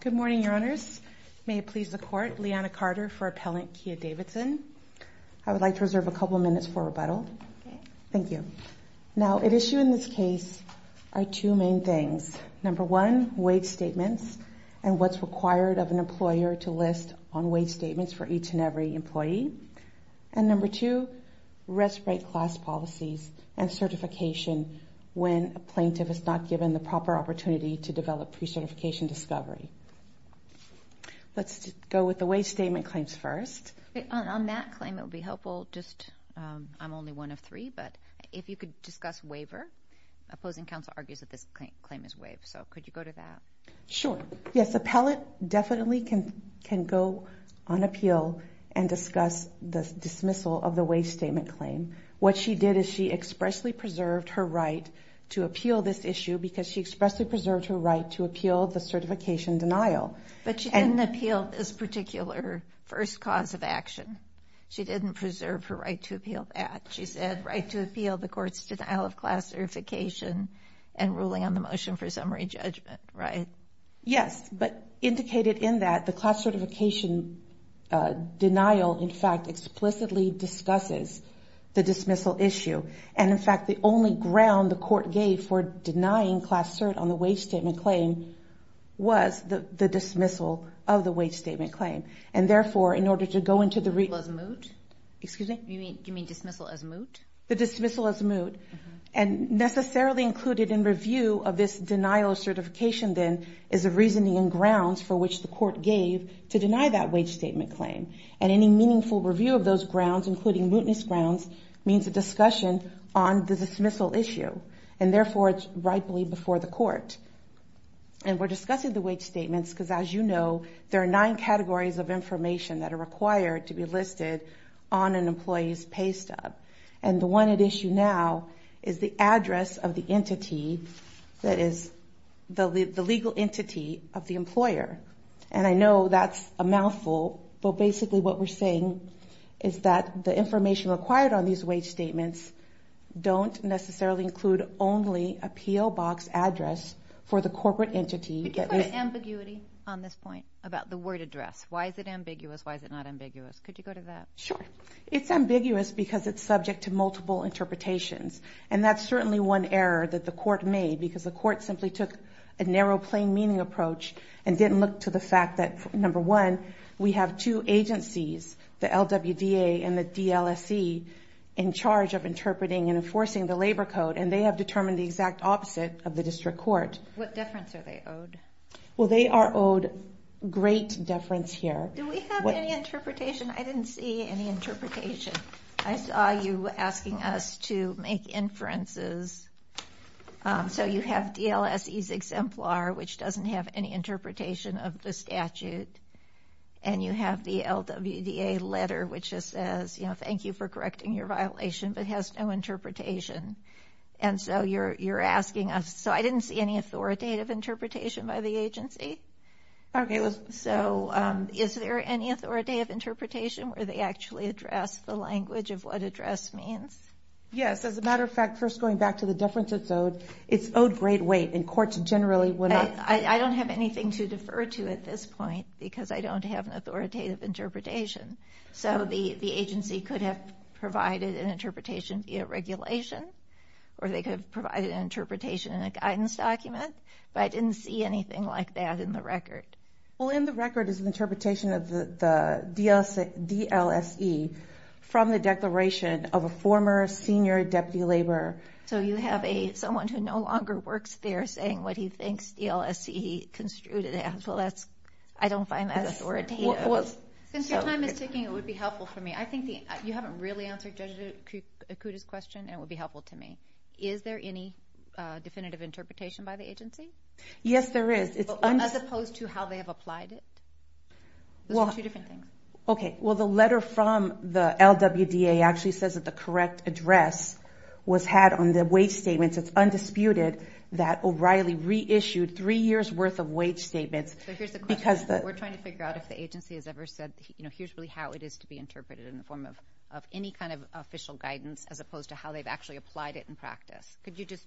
Good morning, your honors. May it please the court, Leanna Carter for Appellant Kia Davidson. I would like to reserve a couple of minutes for rebuttal. Thank you. Now, at issue in this case are two main things. Number one, waive statements and what's required of an appellant to respite class policies and certification when a plaintiff is not given the proper opportunity to develop pre-certification discovery. Let's go with the waive statement claims first. On that claim, it would be helpful just, I'm only one of three, but if you could discuss waiver, opposing counsel argues that this claim is waived. So could you go to that? Sure. Yes, appellant definitely can go on appeal and discuss the dismissal of the waive statement claim. What she did is she expressly preserved her right to appeal this issue because she expressly preserved her right to appeal the certification denial. But she didn't appeal this particular first cause of action. She didn't preserve her right to appeal that. She said right to appeal the court's denial of class certification and Yes, but indicated in that the class certification denial, in fact, explicitly discusses the dismissal issue. And in fact, the only ground the court gave for denying class cert on the waive statement claim was the dismissal of the waive statement claim. And therefore, in order to go into the reasonable as moot, excuse me, you mean dismissal as moot? The dismissal as moot and necessarily included in review of this denial of certification then is a reasoning and grounds for which the court gave to deny that wage statement claim. And any meaningful review of those grounds, including mootness grounds, means a discussion on the dismissal issue. And therefore, it's rightfully before the court. And we're discussing the wage statements because as you know, there are nine categories of information that are required to be listed on an employee's pay stub. And the one at issue now is the address of the entity that is the legal entity of the employer. And I know that's a mouthful, but basically what we're saying is that the information required on these wage statements don't necessarily include only a P.O. box address for the corporate entity. Could you put an ambiguity on this point about the word address? Why is it ambiguous? Why Sure. It's ambiguous because it's subject to multiple interpretations. And that's certainly one error that the court made because the court simply took a narrow plain meaning approach and didn't look to the fact that, number one, we have two agencies, the LWDA and the DLSE, in charge of interpreting and enforcing the labor code. And they have determined the exact opposite of the district court. What deference are they owed? Well, they are owed great deference here. Do we have any interpretation? I didn't see any interpretation. I saw you asking us to make inferences. So you have DLSE's exemplar, which doesn't have any interpretation of the statute. And you have the LWDA letter, which just says, you know, thank you for correcting your violation, but has no interpretation. And so you're asking us. So I didn't see any authoritative interpretation by the agency. Okay. So is there any authoritative interpretation where they actually address the language of what address means? Yes. As a matter of fact, first going back to the deference it's owed, it's owed great weight and courts generally would not... I don't have anything to defer to at this point because I don't have an authoritative interpretation. So the agency could have provided an interpretation via regulation, or they could have provided an interpretation in a guidance document. But I didn't see anything like that in the record. Well, in the record is an interpretation of the DLSE from the declaration of a former senior deputy laborer. So you have someone who no longer works there saying what he thinks DLSE construed it as. Well, I don't find that authoritative. Since your time is ticking, it would be helpful for me. I think you haven't really answered Judge Akuda's question, and it would be helpful to me. Is there any definitive interpretation by the agency? Yes, there is. As opposed to how they have applied it? Those are two different things. Okay. Well, the letter from the LWDA actually says that the correct address was had on the wage statements. It's undisputed that O'Reilly reissued three years worth of wage statements because the... We're trying to figure out if the agency has ever said, here's really how it is to be interpreted in the form of any kind of official guidance as opposed to how they've actually applied it in practice. Could you just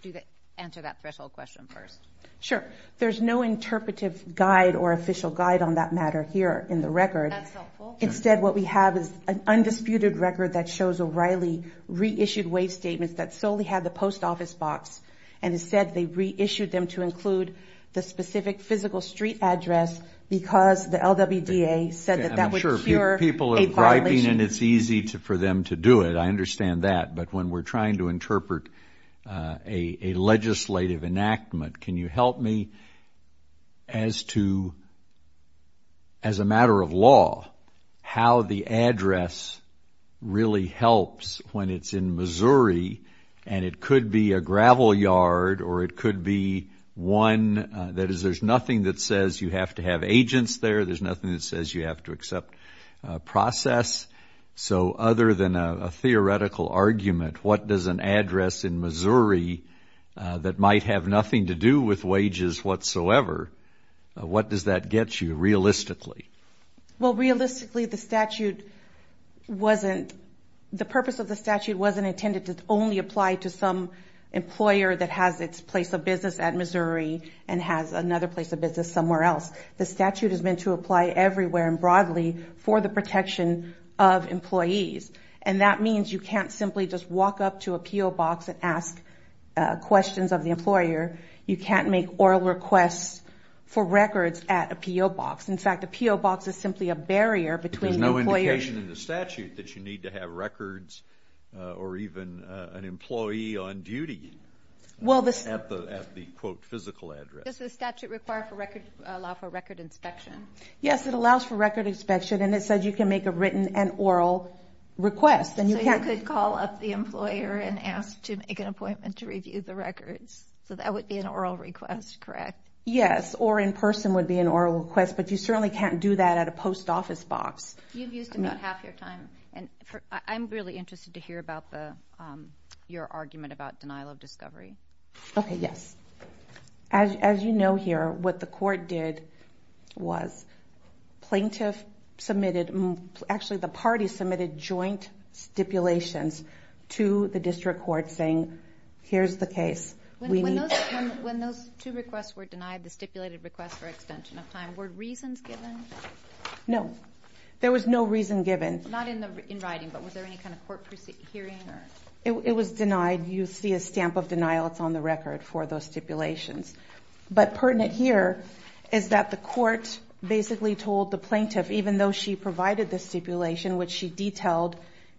answer that threshold question first? Sure. There's no interpretive guide or official guide on that matter here in the record. That's helpful. Instead, what we have is an undisputed record that shows O'Reilly reissued wage statements that solely had the post office box, and it said they reissued them to include the specific physical street address because the LWDA said that that would cure a violation. People are griping, and it's easy for them to do it. I understand that. But when we're trying to interpret a legislative enactment, can you help me as to, as a matter of law, how the address really helps when it's in Missouri, and it could be a gravel yard or it could be one that is... There's nothing that says you have to have agents there. There's nothing that says you have to accept process. So other than a theoretical argument, what does an address in Missouri that might have nothing to do with wages whatsoever, what does that get you realistically? Well, realistically, the purpose of the statute wasn't intended to only apply to some employer that has its place of business at Missouri and has another place of business somewhere else. The statute is meant to apply everywhere and broadly for the protection of employees. And that means you can't simply just walk up to a PO box and ask questions of the employer. You can't make oral requests for records at a PO box. In fact, a PO box is simply a barrier between the employer... There's no indication in the statute that you need to have records or even an employee on duty at the, quote, physical address. Does the statute allow for record inspection? Yes, it allows for record inspection, and it says you can make a written and oral request. So you could call up the employer and ask to make an appointment to review the records. So that would be an oral request, correct? Yes, or in person would be an oral request, but you certainly can't do that at a post office box. You've used about half your time. I'm really interested to hear about your argument about denial of discovery. Okay, yes. As you know here, what the court did was plaintiff submitted... Actually, the party submitted joint stipulations to the district court saying, here's the case. When those two requests were denied, the stipulated requests for extension of time, were reasons given? No, there was no reason given. Not in writing, but was there any kind of court hearing? It was denied. You see a stamp of denial. It's on the record for those stipulations. But pertinent here is that the court basically told the plaintiff, even though she provided the stipulation, which she detailed,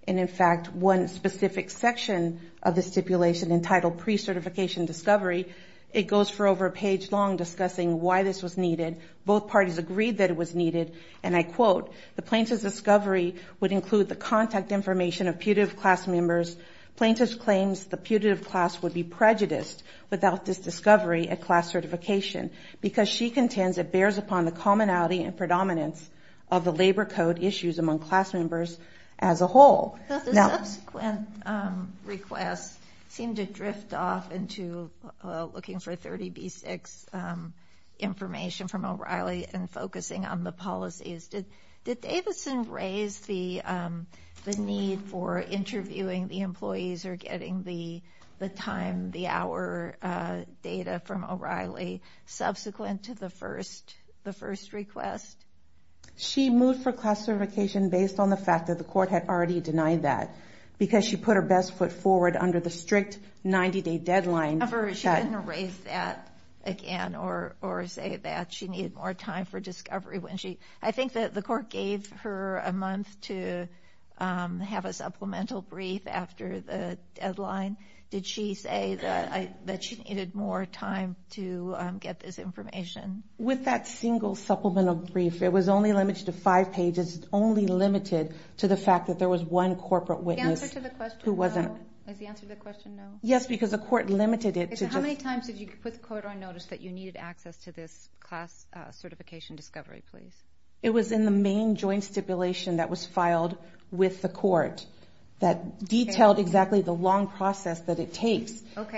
and in fact, one specific section of the stipulation entitled pre-certification discovery, it goes for over a page long discussing why this was needed. Both parties agreed that it was needed, and I quote, the plaintiff's discovery would include the contact information of putative class members. Plaintiff claims the putative class would be prejudiced without this discovery at class certification, because she contends it bears upon the commonality and predominance of the labor code issues among class members as a whole. The subsequent requests seem to drift off into looking for 30B6 information from O'Reilly and focusing on the policies. Did Davidson raise the need for interviewing the employees or getting the time, the hour data from O'Reilly subsequent to the first request? She moved for class certification based on the fact that the court had already denied that, because she put her best foot forward under the strict 90-day deadline. She didn't raise that again or say that she needed more time for discovery. I think that the court gave her a month to have a supplemental brief after the deadline. Did she say that she needed more time to get this information? With that single supplemental brief, it was only limited to five pages. It was only limited to the fact that there was one corporate witness who wasn't... Was the answer to the question no? Yes, because the court limited it to just... How many times did you put the court on notice that you needed access to this class certification discovery, please? It was in the main joint stipulation that was filed with the court that detailed exactly the long process that it takes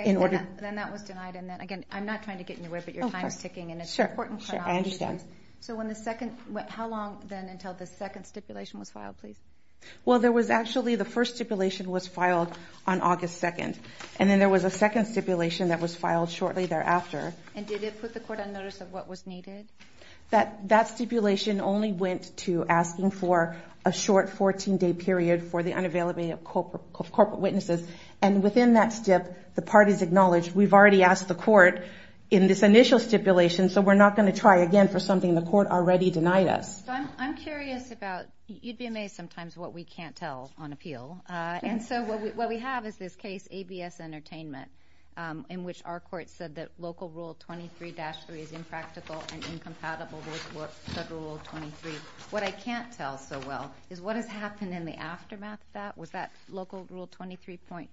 in order... Then that was denied. Again, I'm not trying to get in your way, but your time is ticking and it's an important chronology. Sure, I understand. How long then until the second stipulation was filed, please? Well, there was actually... The first stipulation was filed on August 2nd. And then there was a second stipulation that was filed shortly thereafter. And did it put the court on notice of what was needed? That stipulation only went to asking for a short 14-day period for the unavailability of corporate witnesses. And within that stip, the parties acknowledged, we've already asked the court in this initial stipulation, so we're not going to try again for something the court already denied us. I'm curious about... You'd be amazed sometimes what we can't tell on appeal. And so what we have is this case, ABS Entertainment, in which our court said that Local Rule 23-3 is impractical and incompatible with Federal Rule 23. What I can't tell so well is what has happened in the aftermath of that. Was that Local Rule 23.3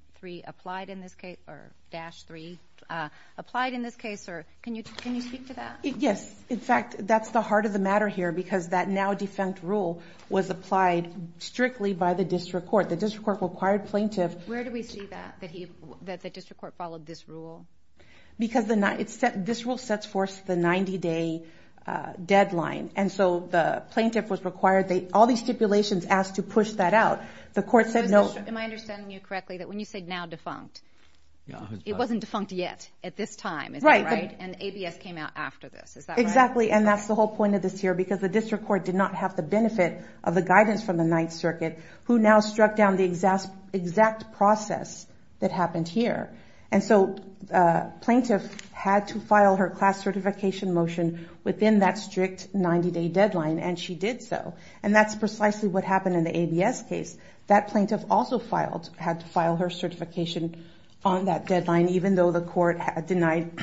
applied in this case or dash 3 applied in this case? Can you speak to that? Yes. In fact, that's the heart of the matter here because that now-defunct rule was applied strictly by the district court. The district court required plaintiff... Where do we see that? That the district court followed this rule? Because this rule sets forth the 90-day deadline. And so the plaintiff was required... All these stipulations asked to push that out. The court said no... Am I understanding you correctly that when you say now-defunct, it wasn't defunct yet at this time, is that right? And ABS came out after this, is that right? Exactly. And that's the whole point of this here because the district court did not have the benefit of the guidance from the Ninth Circuit, who now struck down the exact process that happened here. And so plaintiff had to file her class certification motion within that strict 90-day deadline, and she did so. And that's precisely what happened in the ABS case. That plaintiff also had to file her certification on that deadline, even though the court denied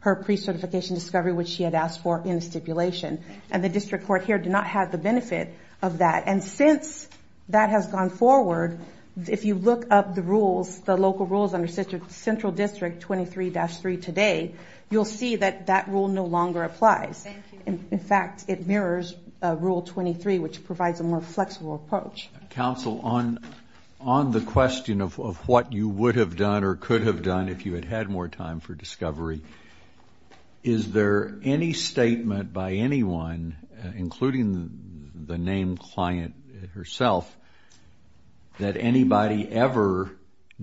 her pre-certification discovery, which she had asked for in the stipulation. And the district court here did not have the benefit of that. And since that has gone forward, if you look up the rules, the local rules under Central District 23-3 today, you'll see that that rule no longer applies. Thank you. In fact, it mirrors Rule 23, which provides a more flexible approach. Counsel, on the question of what you would have done or could have done if you had had more time for discovery, is there any statement by anyone, including the named client herself, that anybody ever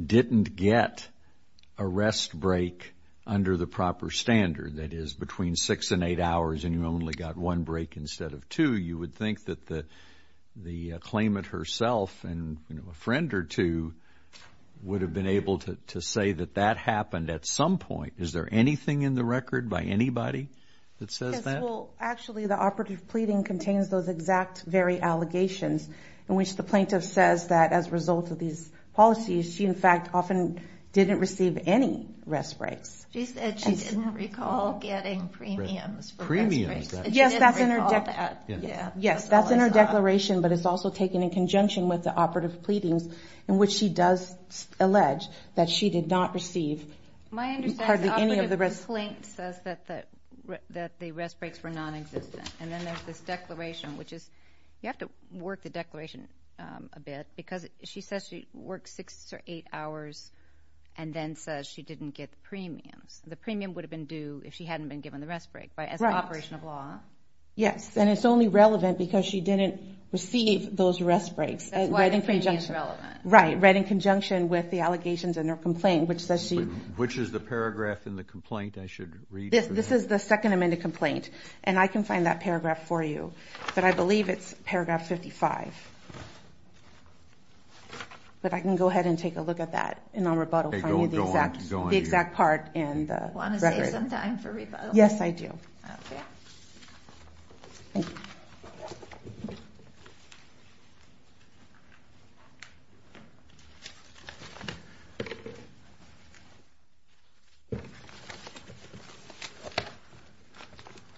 didn't get a rest break under the proper standard, that is between 6 and 8 hours and you only got one break instead of two, you would think that the claimant herself and a friend or two would have been able to say that that happened at some point. Is there anything in the record by anybody that says that? Well, actually, the operative pleading contains those exact very allegations in which the plaintiff says that as a result of these policies, she, in fact, often didn't receive any rest breaks. She said she didn't recall getting premiums for rest breaks. Yes, that's in her declaration. But it's also taken in conjunction with the operative pleadings in which she does allege that she did not receive hardly any of the rest... My understanding is the operative complaint says that the rest breaks were non-existent. And then there's this declaration, which is, you have to work the declaration a bit because she says she worked 6 or 8 hours and then says she didn't get the premiums. The premium would have been due if she hadn't been given the rest break as an operation of law. Yes, and it's only relevant because she didn't receive those rest breaks. That's why the premium is relevant. Right, right in conjunction with the allegations in her complaint, which says she... Which is the paragraph in the complaint I should read? This is the second amended complaint. And I can find that paragraph for you. But I believe it's paragraph 55. But I can go ahead and take a look at that and I'll rebuttal for you the exact part Do you want to save some time for rebuttal? Yes, I do.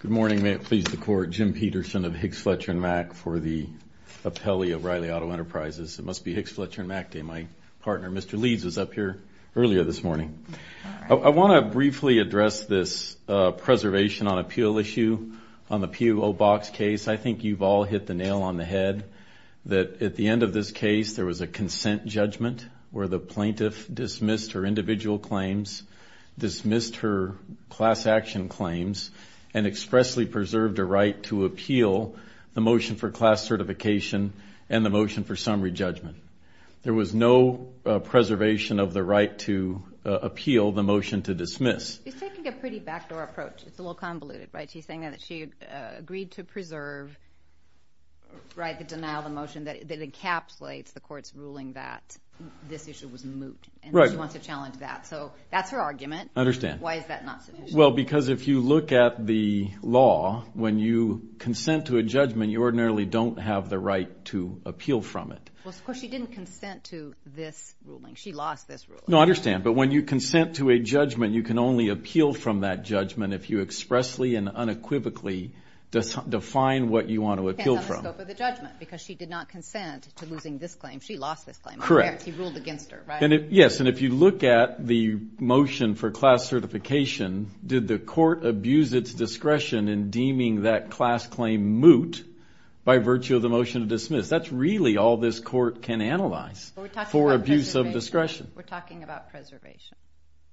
Good morning. May it please the Court. Jim Peterson of Hicks, Fletcher & Mack for the Appellee of Riley Auto Enterprises. It must be Hicks, Fletcher & Mack Day. My partner, Mr. Leeds, was up here earlier this morning. I want to briefly address this preservation on appeal issue on the PO Box case. I think you've all hit the nail on the head that at the end of this case there was a consent judgment where the plaintiff dismissed her individual claims, dismissed her class action claims, and expressly preserved her right to appeal the motion for class certification and the motion for summary judgment. There was no preservation of the right to appeal the motion to dismiss. She's taking a pretty backdoor approach. It's a little convoluted, right? She's saying that she agreed to preserve, right, the denial of the motion that encapsulates the Court's ruling that this issue was moot. Right. And she wants to challenge that. So that's her argument. I understand. Why is that not sufficient? Well, because if you look at the law, when you consent to a judgment, you ordinarily don't have the right to appeal from it. Well, of course, she didn't consent to this ruling. She lost this ruling. No, I understand. But when you consent to a judgment, you can only appeal from that judgment if you expressly and unequivocally define what you want to appeal from. It depends on the scope of the judgment because she did not consent to losing this claim. She lost this claim. Correct. He ruled against her, right? Yes, and if you look at the motion for class certification, did the Court abuse its discretion in deeming that class claim moot by virtue of the motion to dismiss? That's really all this Court can analyze for abuse of discretion. We're talking about preservation.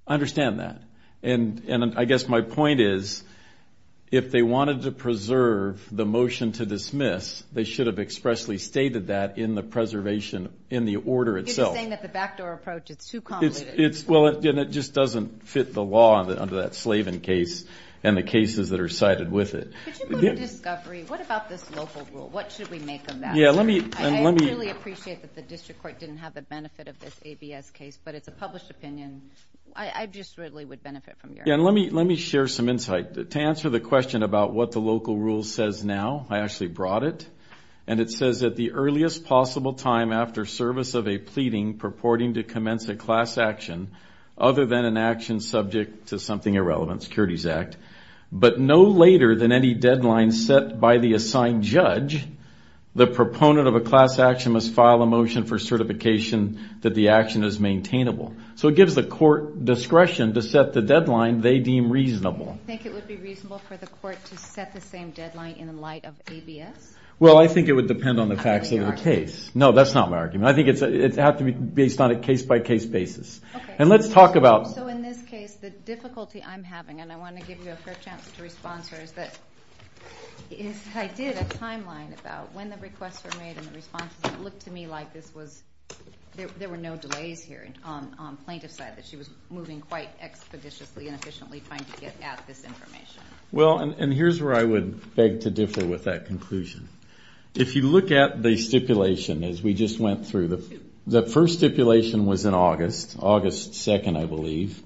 I understand that. And I guess my point is if they wanted to preserve the motion to dismiss, they should have expressly stated that in the preservation in the order itself. He's saying that the backdoor approach is too complicated. Well, and it just doesn't fit the law under that Slavin case and the cases that are cited with it. Could you go to discovery? What about this local rule? What should we make of that? I really appreciate that the District Court didn't have the benefit of this ABS case, but it's a published opinion. I just really would benefit from hearing it. Let me share some insight. To answer the question about what the local rule says now, I actually brought it, and it says that the earliest possible time after service of a pleading purporting to commence a class action other than an action subject to something irrelevant, Securities Act, but no later than any deadline set by the assigned judge, the proponent of a class action must file a motion for certification that the action is maintainable. So it gives the court discretion to set the deadline they deem reasonable. You think it would be reasonable for the court to set the same deadline in light of ABS? Well, I think it would depend on the facts of the case. No, that's not my argument. I think it would have to be based on a case-by-case basis. And let's talk about... So in this case, the difficulty I'm having, and I want to give you a fair chance to respond to her, is that I did a timeline about when the requests were made and the responses, and it looked to me like there were no delays here on plaintiff's side, that she was moving quite expeditiously and efficiently trying to get at this information. Well, and here's where I would beg to differ with that conclusion. If you look at the stipulation as we just went through, the first stipulation was in August, August 2nd, I believe,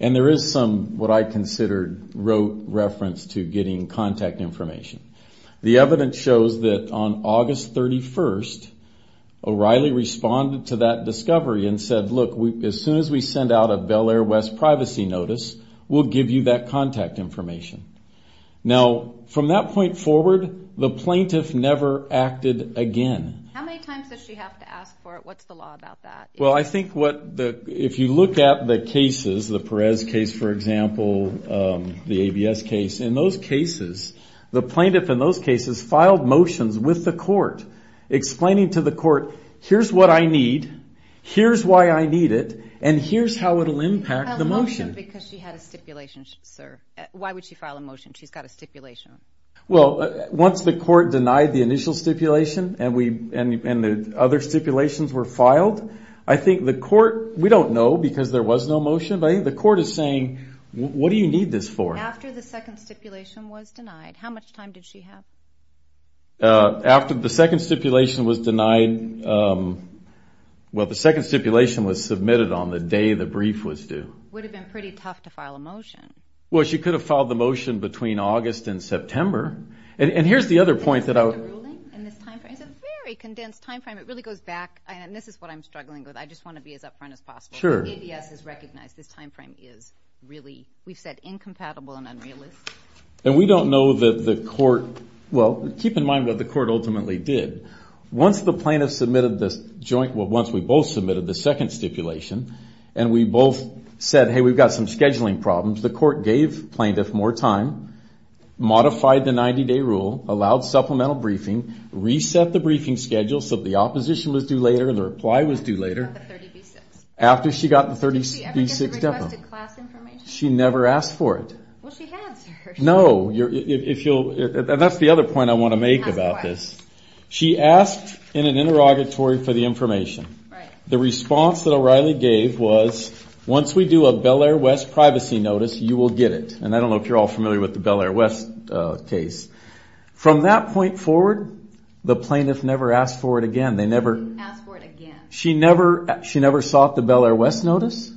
and there is some, what I considered, wrote reference to getting contact information. The evidence shows that on August 31st, O'Reilly responded to that discovery and said, look, as soon as we send out a Bel Air West privacy notice, we'll give you that contact information. Now, from that point forward, the plaintiff never acted again. How many times does she have to ask for it? What's the law about that? Well, I think what the... If you look at the cases, the Perez case, for example, the ABS case, in those cases, the plaintiff in those cases filed motions with the court explaining to the court, here's what I need, here's why I need it, and here's how it'll impact the motion. A motion because she had a stipulation, sir. Why would she file a motion? She's got a stipulation. Well, once the court denied the initial stipulation and the other stipulations were filed, I think the court... We don't know because there was no motion, but I think the court is saying, what do you need this for? After the second stipulation was denied, how much time did she have? After the second stipulation was denied... Well, the second stipulation was submitted on the day the brief was due. Would have been pretty tough to file a motion. Well, she could have filed the motion between August and September. And here's the other point that I... In this time frame, it's a very condensed time frame. It really goes back... And this is what I'm struggling with. I just want to be as upfront as possible. ABS has recognized this time frame is really, we've said, incompatible and unrealistic. And we don't know that the court... Well, keep in mind what the court ultimately did. Once the plaintiff submitted the joint... Well, once we both submitted the second stipulation and we both said, hey, we've got some scheduling problems, the court gave plaintiff more time, modified the 90-day rule, allowed supplemental briefing, reset the briefing schedule so the opposition was due later, the reply was due later. After she got the 30B6. Did she ever get the requested class information? She never asked for it. Well, she has. No. And that's the other point I want to make about this. She asked in an interrogatory for the information. Right. The response that O'Reilly gave was, once we do a Bel Air West privacy notice, you will get it. And I don't know if you're all familiar with the Bel Air West case. From that point forward, the plaintiff never asked for it again. They never... She didn't ask for it again. She never sought the Bel Air West notice.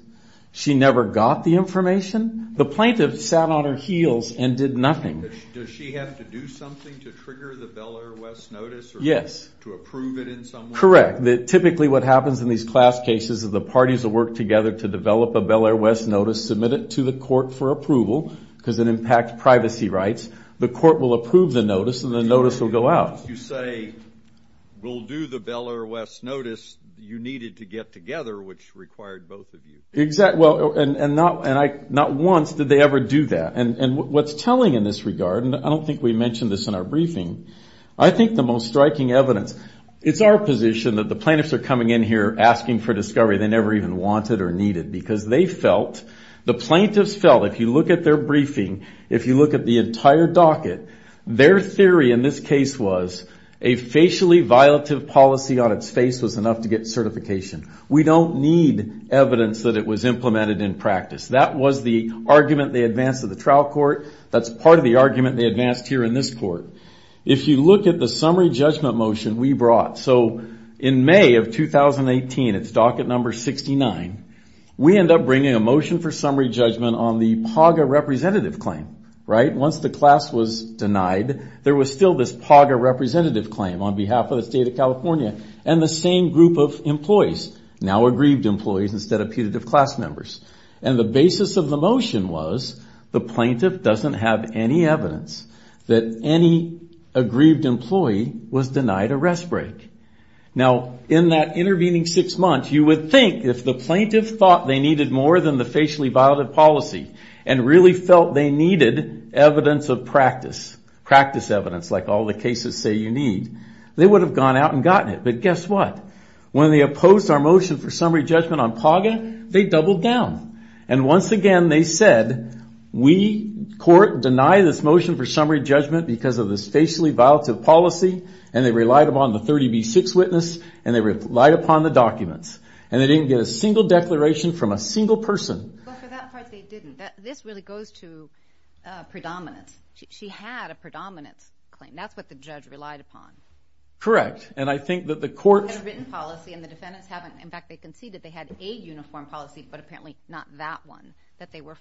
She never got the information. The plaintiff sat on her heels and did nothing. Does she have to do something to trigger the Bel Air West notice? Yes. To approve it in some way? Correct. Typically what happens in these class cases is the parties will work together to develop a Bel Air West notice, submit it to the court for approval, because it impacts privacy rights. The court will approve the notice and the notice will go out. Once you say, we'll do the Bel Air West notice, you needed to get together, which required both of you. Exactly. And not once did they ever do that. And what's telling in this regard, and I don't think we mentioned this in our briefing, I think the most striking evidence... It's our position that the plaintiffs are coming in here asking for discovery they never even wanted or needed, because they felt, the plaintiffs felt, if you look at their briefing, if you look at the entire docket, their theory in this case was, a facially violative policy on its face was enough to get certification. We don't need evidence that it was implemented in practice. That was the argument they advanced at the trial court. That's part of the argument they advanced here in this court. If you look at the summary judgment motion we brought, so in May of 2018, it's docket number 69, we end up bringing a motion for summary judgment on the PAGA representative claim. Once the class was denied, there was still this PAGA representative claim on behalf of the state of California and the same group of employees, now aggrieved employees instead of putative class members. And the basis of the motion was, the plaintiff doesn't have any evidence that any aggrieved employee was denied a rest break. Now, in that intervening six months, you would think if the plaintiff thought they needed more than the facially violative policy and really felt they needed evidence of practice, practice evidence like all the cases say you need, they would have gone out and gotten it. But guess what? When they opposed our motion for summary judgment on PAGA, they doubled down. And once again, they said, we, court, deny this motion for summary judgment because of this facially violative policy, and they relied upon the 30B6 witness, and they relied upon the documents. And they didn't get a single declaration from a single person. Well, for that part, they didn't. This really goes to predominance. She had a predominance claim. That's what the judge relied upon. Correct. And I think that the court... And the defendants haven't, in fact, they conceded they had a uniform policy, but apparently not that one that they were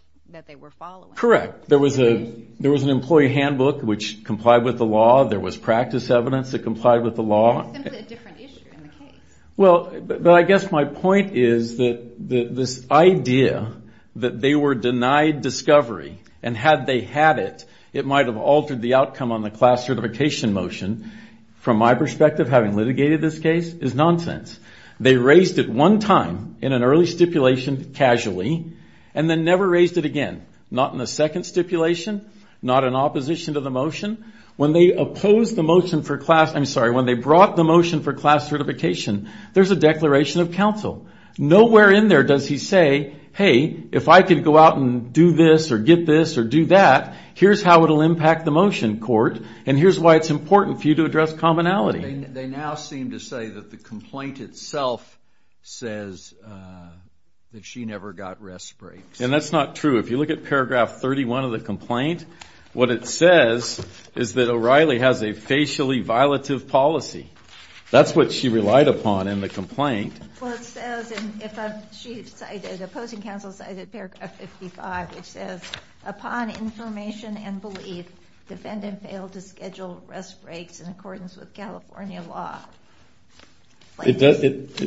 following. Correct. There was an employee handbook which complied with the law. There was practice evidence that complied with the law. It's simply a different issue in the case. Well, but I guess my point is that this idea that they were denied discovery, and had they had it, it might have altered the outcome on the class certification motion, from my perspective, having litigated this case, is nonsense. They raised it one time in an early stipulation, casually, and then never raised it again. Not in the second stipulation, not in opposition to the motion. When they opposed the motion for class... I'm sorry, when they brought the motion for class certification, there's a declaration of counsel. Nowhere in there does he say, hey, if I could go out and do this, or get this, or do that, here's how it'll impact the motion, court, and here's why it's important for you to address commonality. They now seem to say that the complaint itself says that she never got rest breaks. And that's not true. If you look at paragraph 31 of the complaint, what it says is that O'Reilly has a facially violative policy. That's what she relied upon in the complaint. Well, it says, and if I'm... She cited... Opposing counsel cited paragraph 55, which says, upon information and belief, defendant failed to schedule rest breaks in accordance with California law. It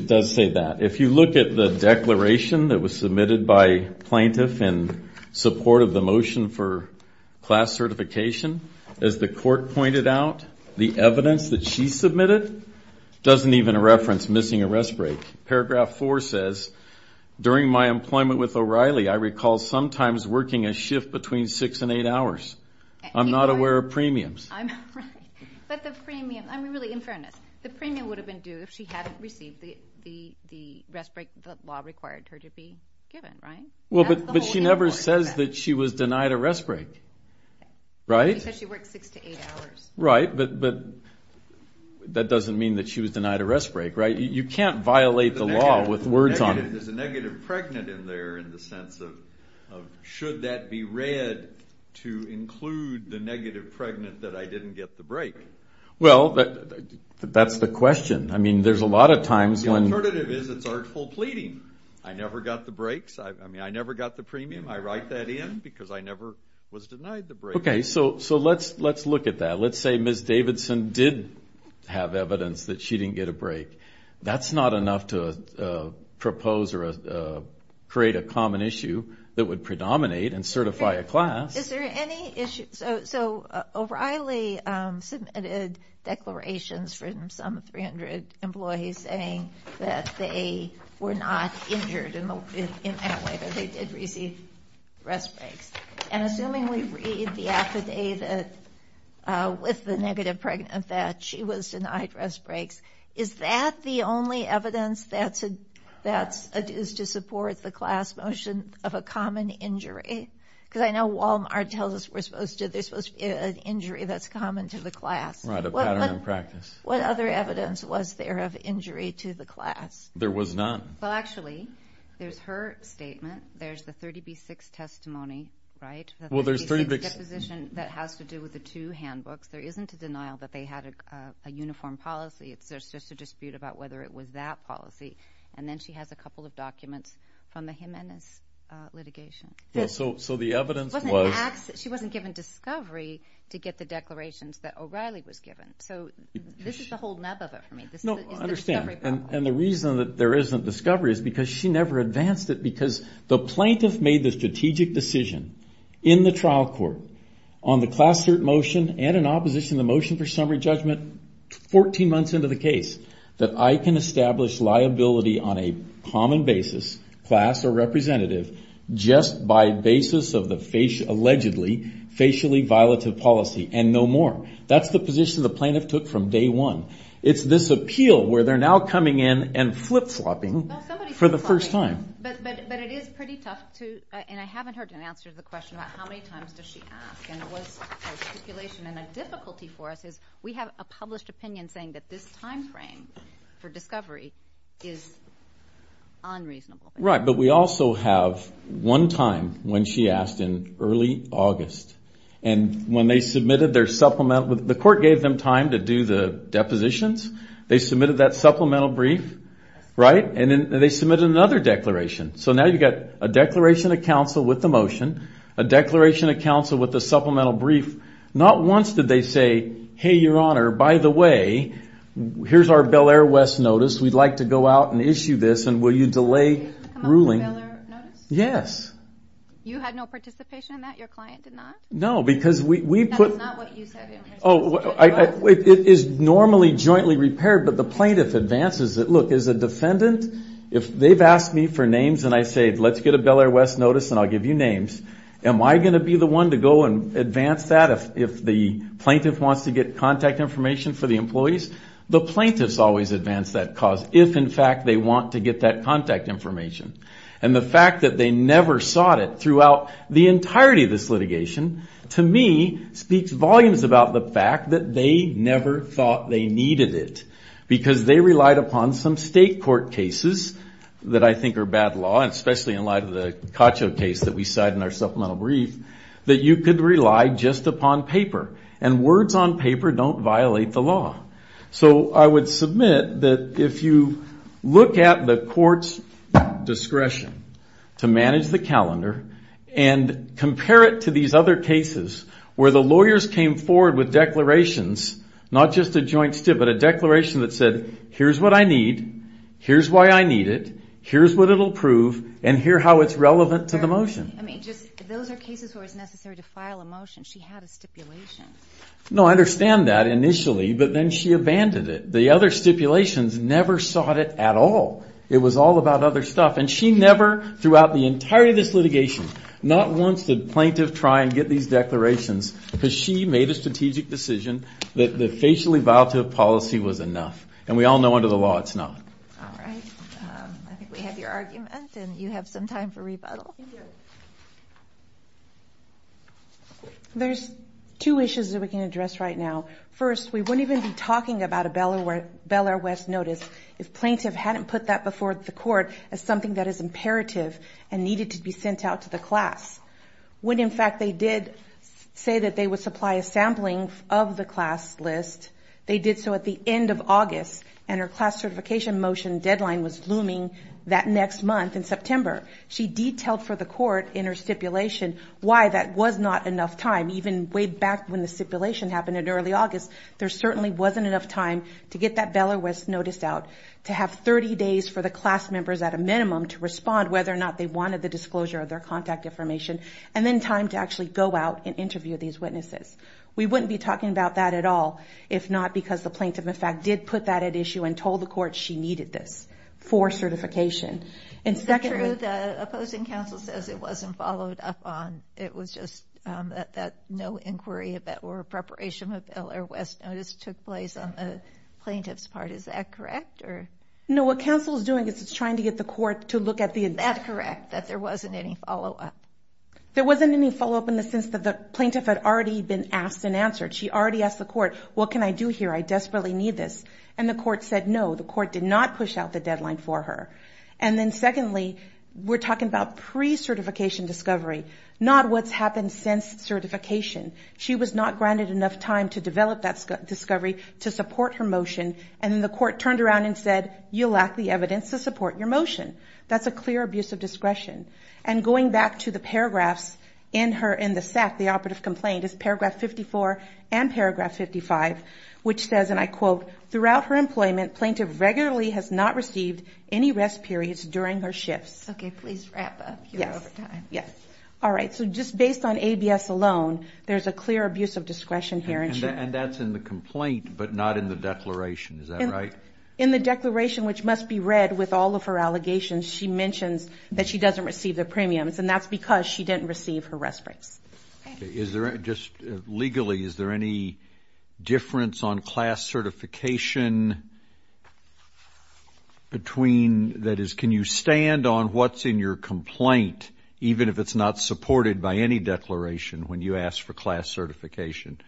does say that. If you look at the declaration that was submitted by plaintiff in support of the motion for class certification, as the court pointed out, the evidence that she submitted doesn't even reference missing a rest break. Paragraph 4 says, during my employment with O'Reilly, I recall sometimes working a shift between 6 and 8 hours. I'm not aware of premiums. But the premium... I'm really... In fairness, the premium would have been due if she hadn't received the rest break the law required her to be given, right? Well, but she never says that she was denied a rest break. Right? She said she worked 6 to 8 hours. Right, but... That doesn't mean that she was denied a rest break, right? You can't violate the law with words on it. There's a negative pregnant in there in the sense of, should that be read to include the negative pregnant that I didn't get the break? Well, that's the question. I mean, there's a lot of times when... The alternative is it's artful pleading. I never got the breaks. I mean, I never got the premium. I write that in because I never was denied the break. Okay, so let's look at that. Let's say Ms. Davidson did have evidence that she didn't get a break. That's not enough to propose or create a common issue that would predominate and certify a class. Is there any issue... So O'Reilly submitted declarations from some 300 employees saying that they were not injured in that way, that they did receive rest breaks. And assuming we read the affidavit with the negative pregnant that she was denied rest breaks, is that the only evidence that's used to support the class motion of a common injury? Because I know Walmart tells us there's supposed to be an injury that's common to the class. What other evidence was there of injury to the class? There was not. Well, actually, there's her statement. There's the 30B6 testimony, right? The 30B6 disposition that has to do with the two handbooks. There isn't a denial that they had a uniform policy. It's just a dispute about whether it was that policy. And then she has a couple of documents from the Jimenez litigation. So the evidence was... She wasn't given discovery to get the declarations that O'Reilly was given. So this is the whole nub of it for me. No, I understand. And the reason that there isn't discovery is because she never advanced it because the plaintiff made the strategic decision in the trial court on the class cert motion and in opposition to the motion for summary judgment 14 months into the case that I can establish liability on a common basis, class or representative, just by basis of the allegedly facially violative policy and no more. That's the position the plaintiff took from day one. It's this appeal where they're now coming in and flip-flopping for the first time. But it is pretty tough to... The question about how many times does she ask and it was a stipulation and a difficulty for us is we have a published opinion saying that this time frame for discovery is unreasonable. Right. But we also have one time when she asked in early August and when they submitted their supplemental... The court gave them time to do the depositions. They submitted that supplemental brief. Right? And then they submitted another declaration. So now you've got a declaration of counsel with the motion, a declaration of counsel with the supplemental brief. Not once did they say, hey, your honor, by the way, here's our Bel Air West notice. We'd like to go out and issue this and will you delay ruling? Yes. You had no participation in that? Your client did not? No, because we put... That is not what you said. It is normally jointly repaired but the plaintiff advances it. Look, as a defendant, if they've asked me for names and I say, let's get a Bel Air West notice and I'll give you names, am I going to be the one to go and advance that if the plaintiff wants to get contact information for the employees? The plaintiffs always advance that cause if, in fact, they want to get that contact information. And the fact that they never sought it throughout the entirety of this litigation to me speaks volumes about the fact that they never thought they needed it because they relied upon some state court cases that I think are bad law especially in light of the Cacho case that we cite in our supplemental brief that you could rely just upon paper and words on paper don't violate the law. So I would submit that if you look at the court's discretion to manage the calendar and compare it to these other cases where the lawyers came forward with declarations not just a joint statement but a declaration that said here's what I need, here's why I need it here's what it'll prove and here how it's relevant to the motion. Those are cases where it's necessary to file a motion. She had a stipulation. No, I understand that initially, but then she abandoned it. The other stipulations never sought it at all. It was all about other stuff. And she never, throughout the entirety of this litigation, not once did plaintiff try and get these declarations because she made a strategic decision that the facially violative policy was enough. And we all know under the law it's not. Alright, I think we have your argument and you have some time for rebuttal. There's two issues that we can address right now. First, we wouldn't even be talking about a Bel Air West notice if plaintiff hadn't put that before the court as something that is imperative and needed to be sent out to the class. When in fact they did say that they would supply a sampling of the class list. They did so at the end of August and her class certification motion deadline was looming that next month in September. She detailed for the court in her stipulation why that was not enough time. Even way back when the stipulation happened in early August there certainly wasn't enough time to get that Bel Air West notice out, to have 30 days for the class members at a minimum to respond whether or not they wanted the disclosure of their contact information and then time to actually go out and We wouldn't be talking about that at all if not because the plaintiff in fact did put that at issue and told the court she needed this for certification. Is it true the opposing counsel says it wasn't followed up on? It was just that no inquiry or preparation of the Bel Air West notice took place on the plaintiff's part. Is that correct? No, what counsel is doing is trying to get the court to look at the... Is that correct? That there wasn't any follow-up? There wasn't any follow-up in the sense that the plaintiff had already been asked and answered. She already asked the court, what can I do here? I desperately need this. And the court said no, the court did not push out the deadline for her. And then secondly we're talking about pre-certification discovery, not what's happened since certification. She was not granted enough time to develop that discovery to support her motion and then the court turned around and said That's a clear abuse of discretion. And going back to the paragraphs in the SAC, the operative complaint is paragraph 54 and paragraph 55, which says Throughout her employment, plaintiff regularly has not received any rest periods during her shifts. Okay, please wrap up. You're over time. Alright, so just based on ABS alone, there's a clear abuse of discretion here. And that's in the complaint but not in the declaration. Is that right? In the declaration, which must be read with all of her allegations, she mentions that she doesn't receive the rest breaks. Legally, is there any difference on class certification between that is, can you stand on what's in your complaint, even if it's not supported by any declaration when you ask for class certification?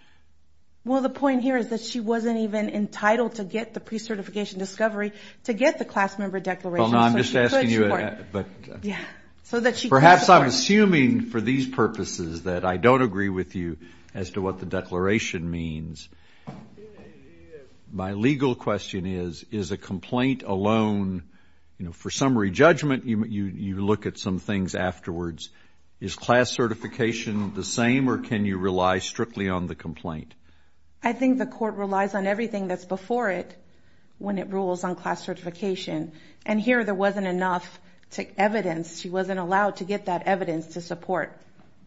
Well, the point here is that she wasn't even entitled to get the pre-certification discovery to get the class member declaration. Perhaps I'm I don't agree with you as to what the declaration means. My legal question is, is a complaint alone, for summary judgment, you look at some things afterwards. Is class certification the same or can you rely strictly on the complaint? I think the court relies on everything that's before it when it rules on class certification. And here, there wasn't enough evidence. She wasn't allowed to provide enough evidence to support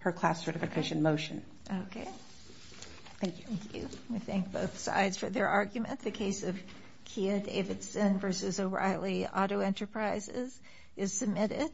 her class certification motion. Thank you. We thank both sides for their argument. The case of Kia Davidson v. O'Reilly Auto Enterprises is submitted.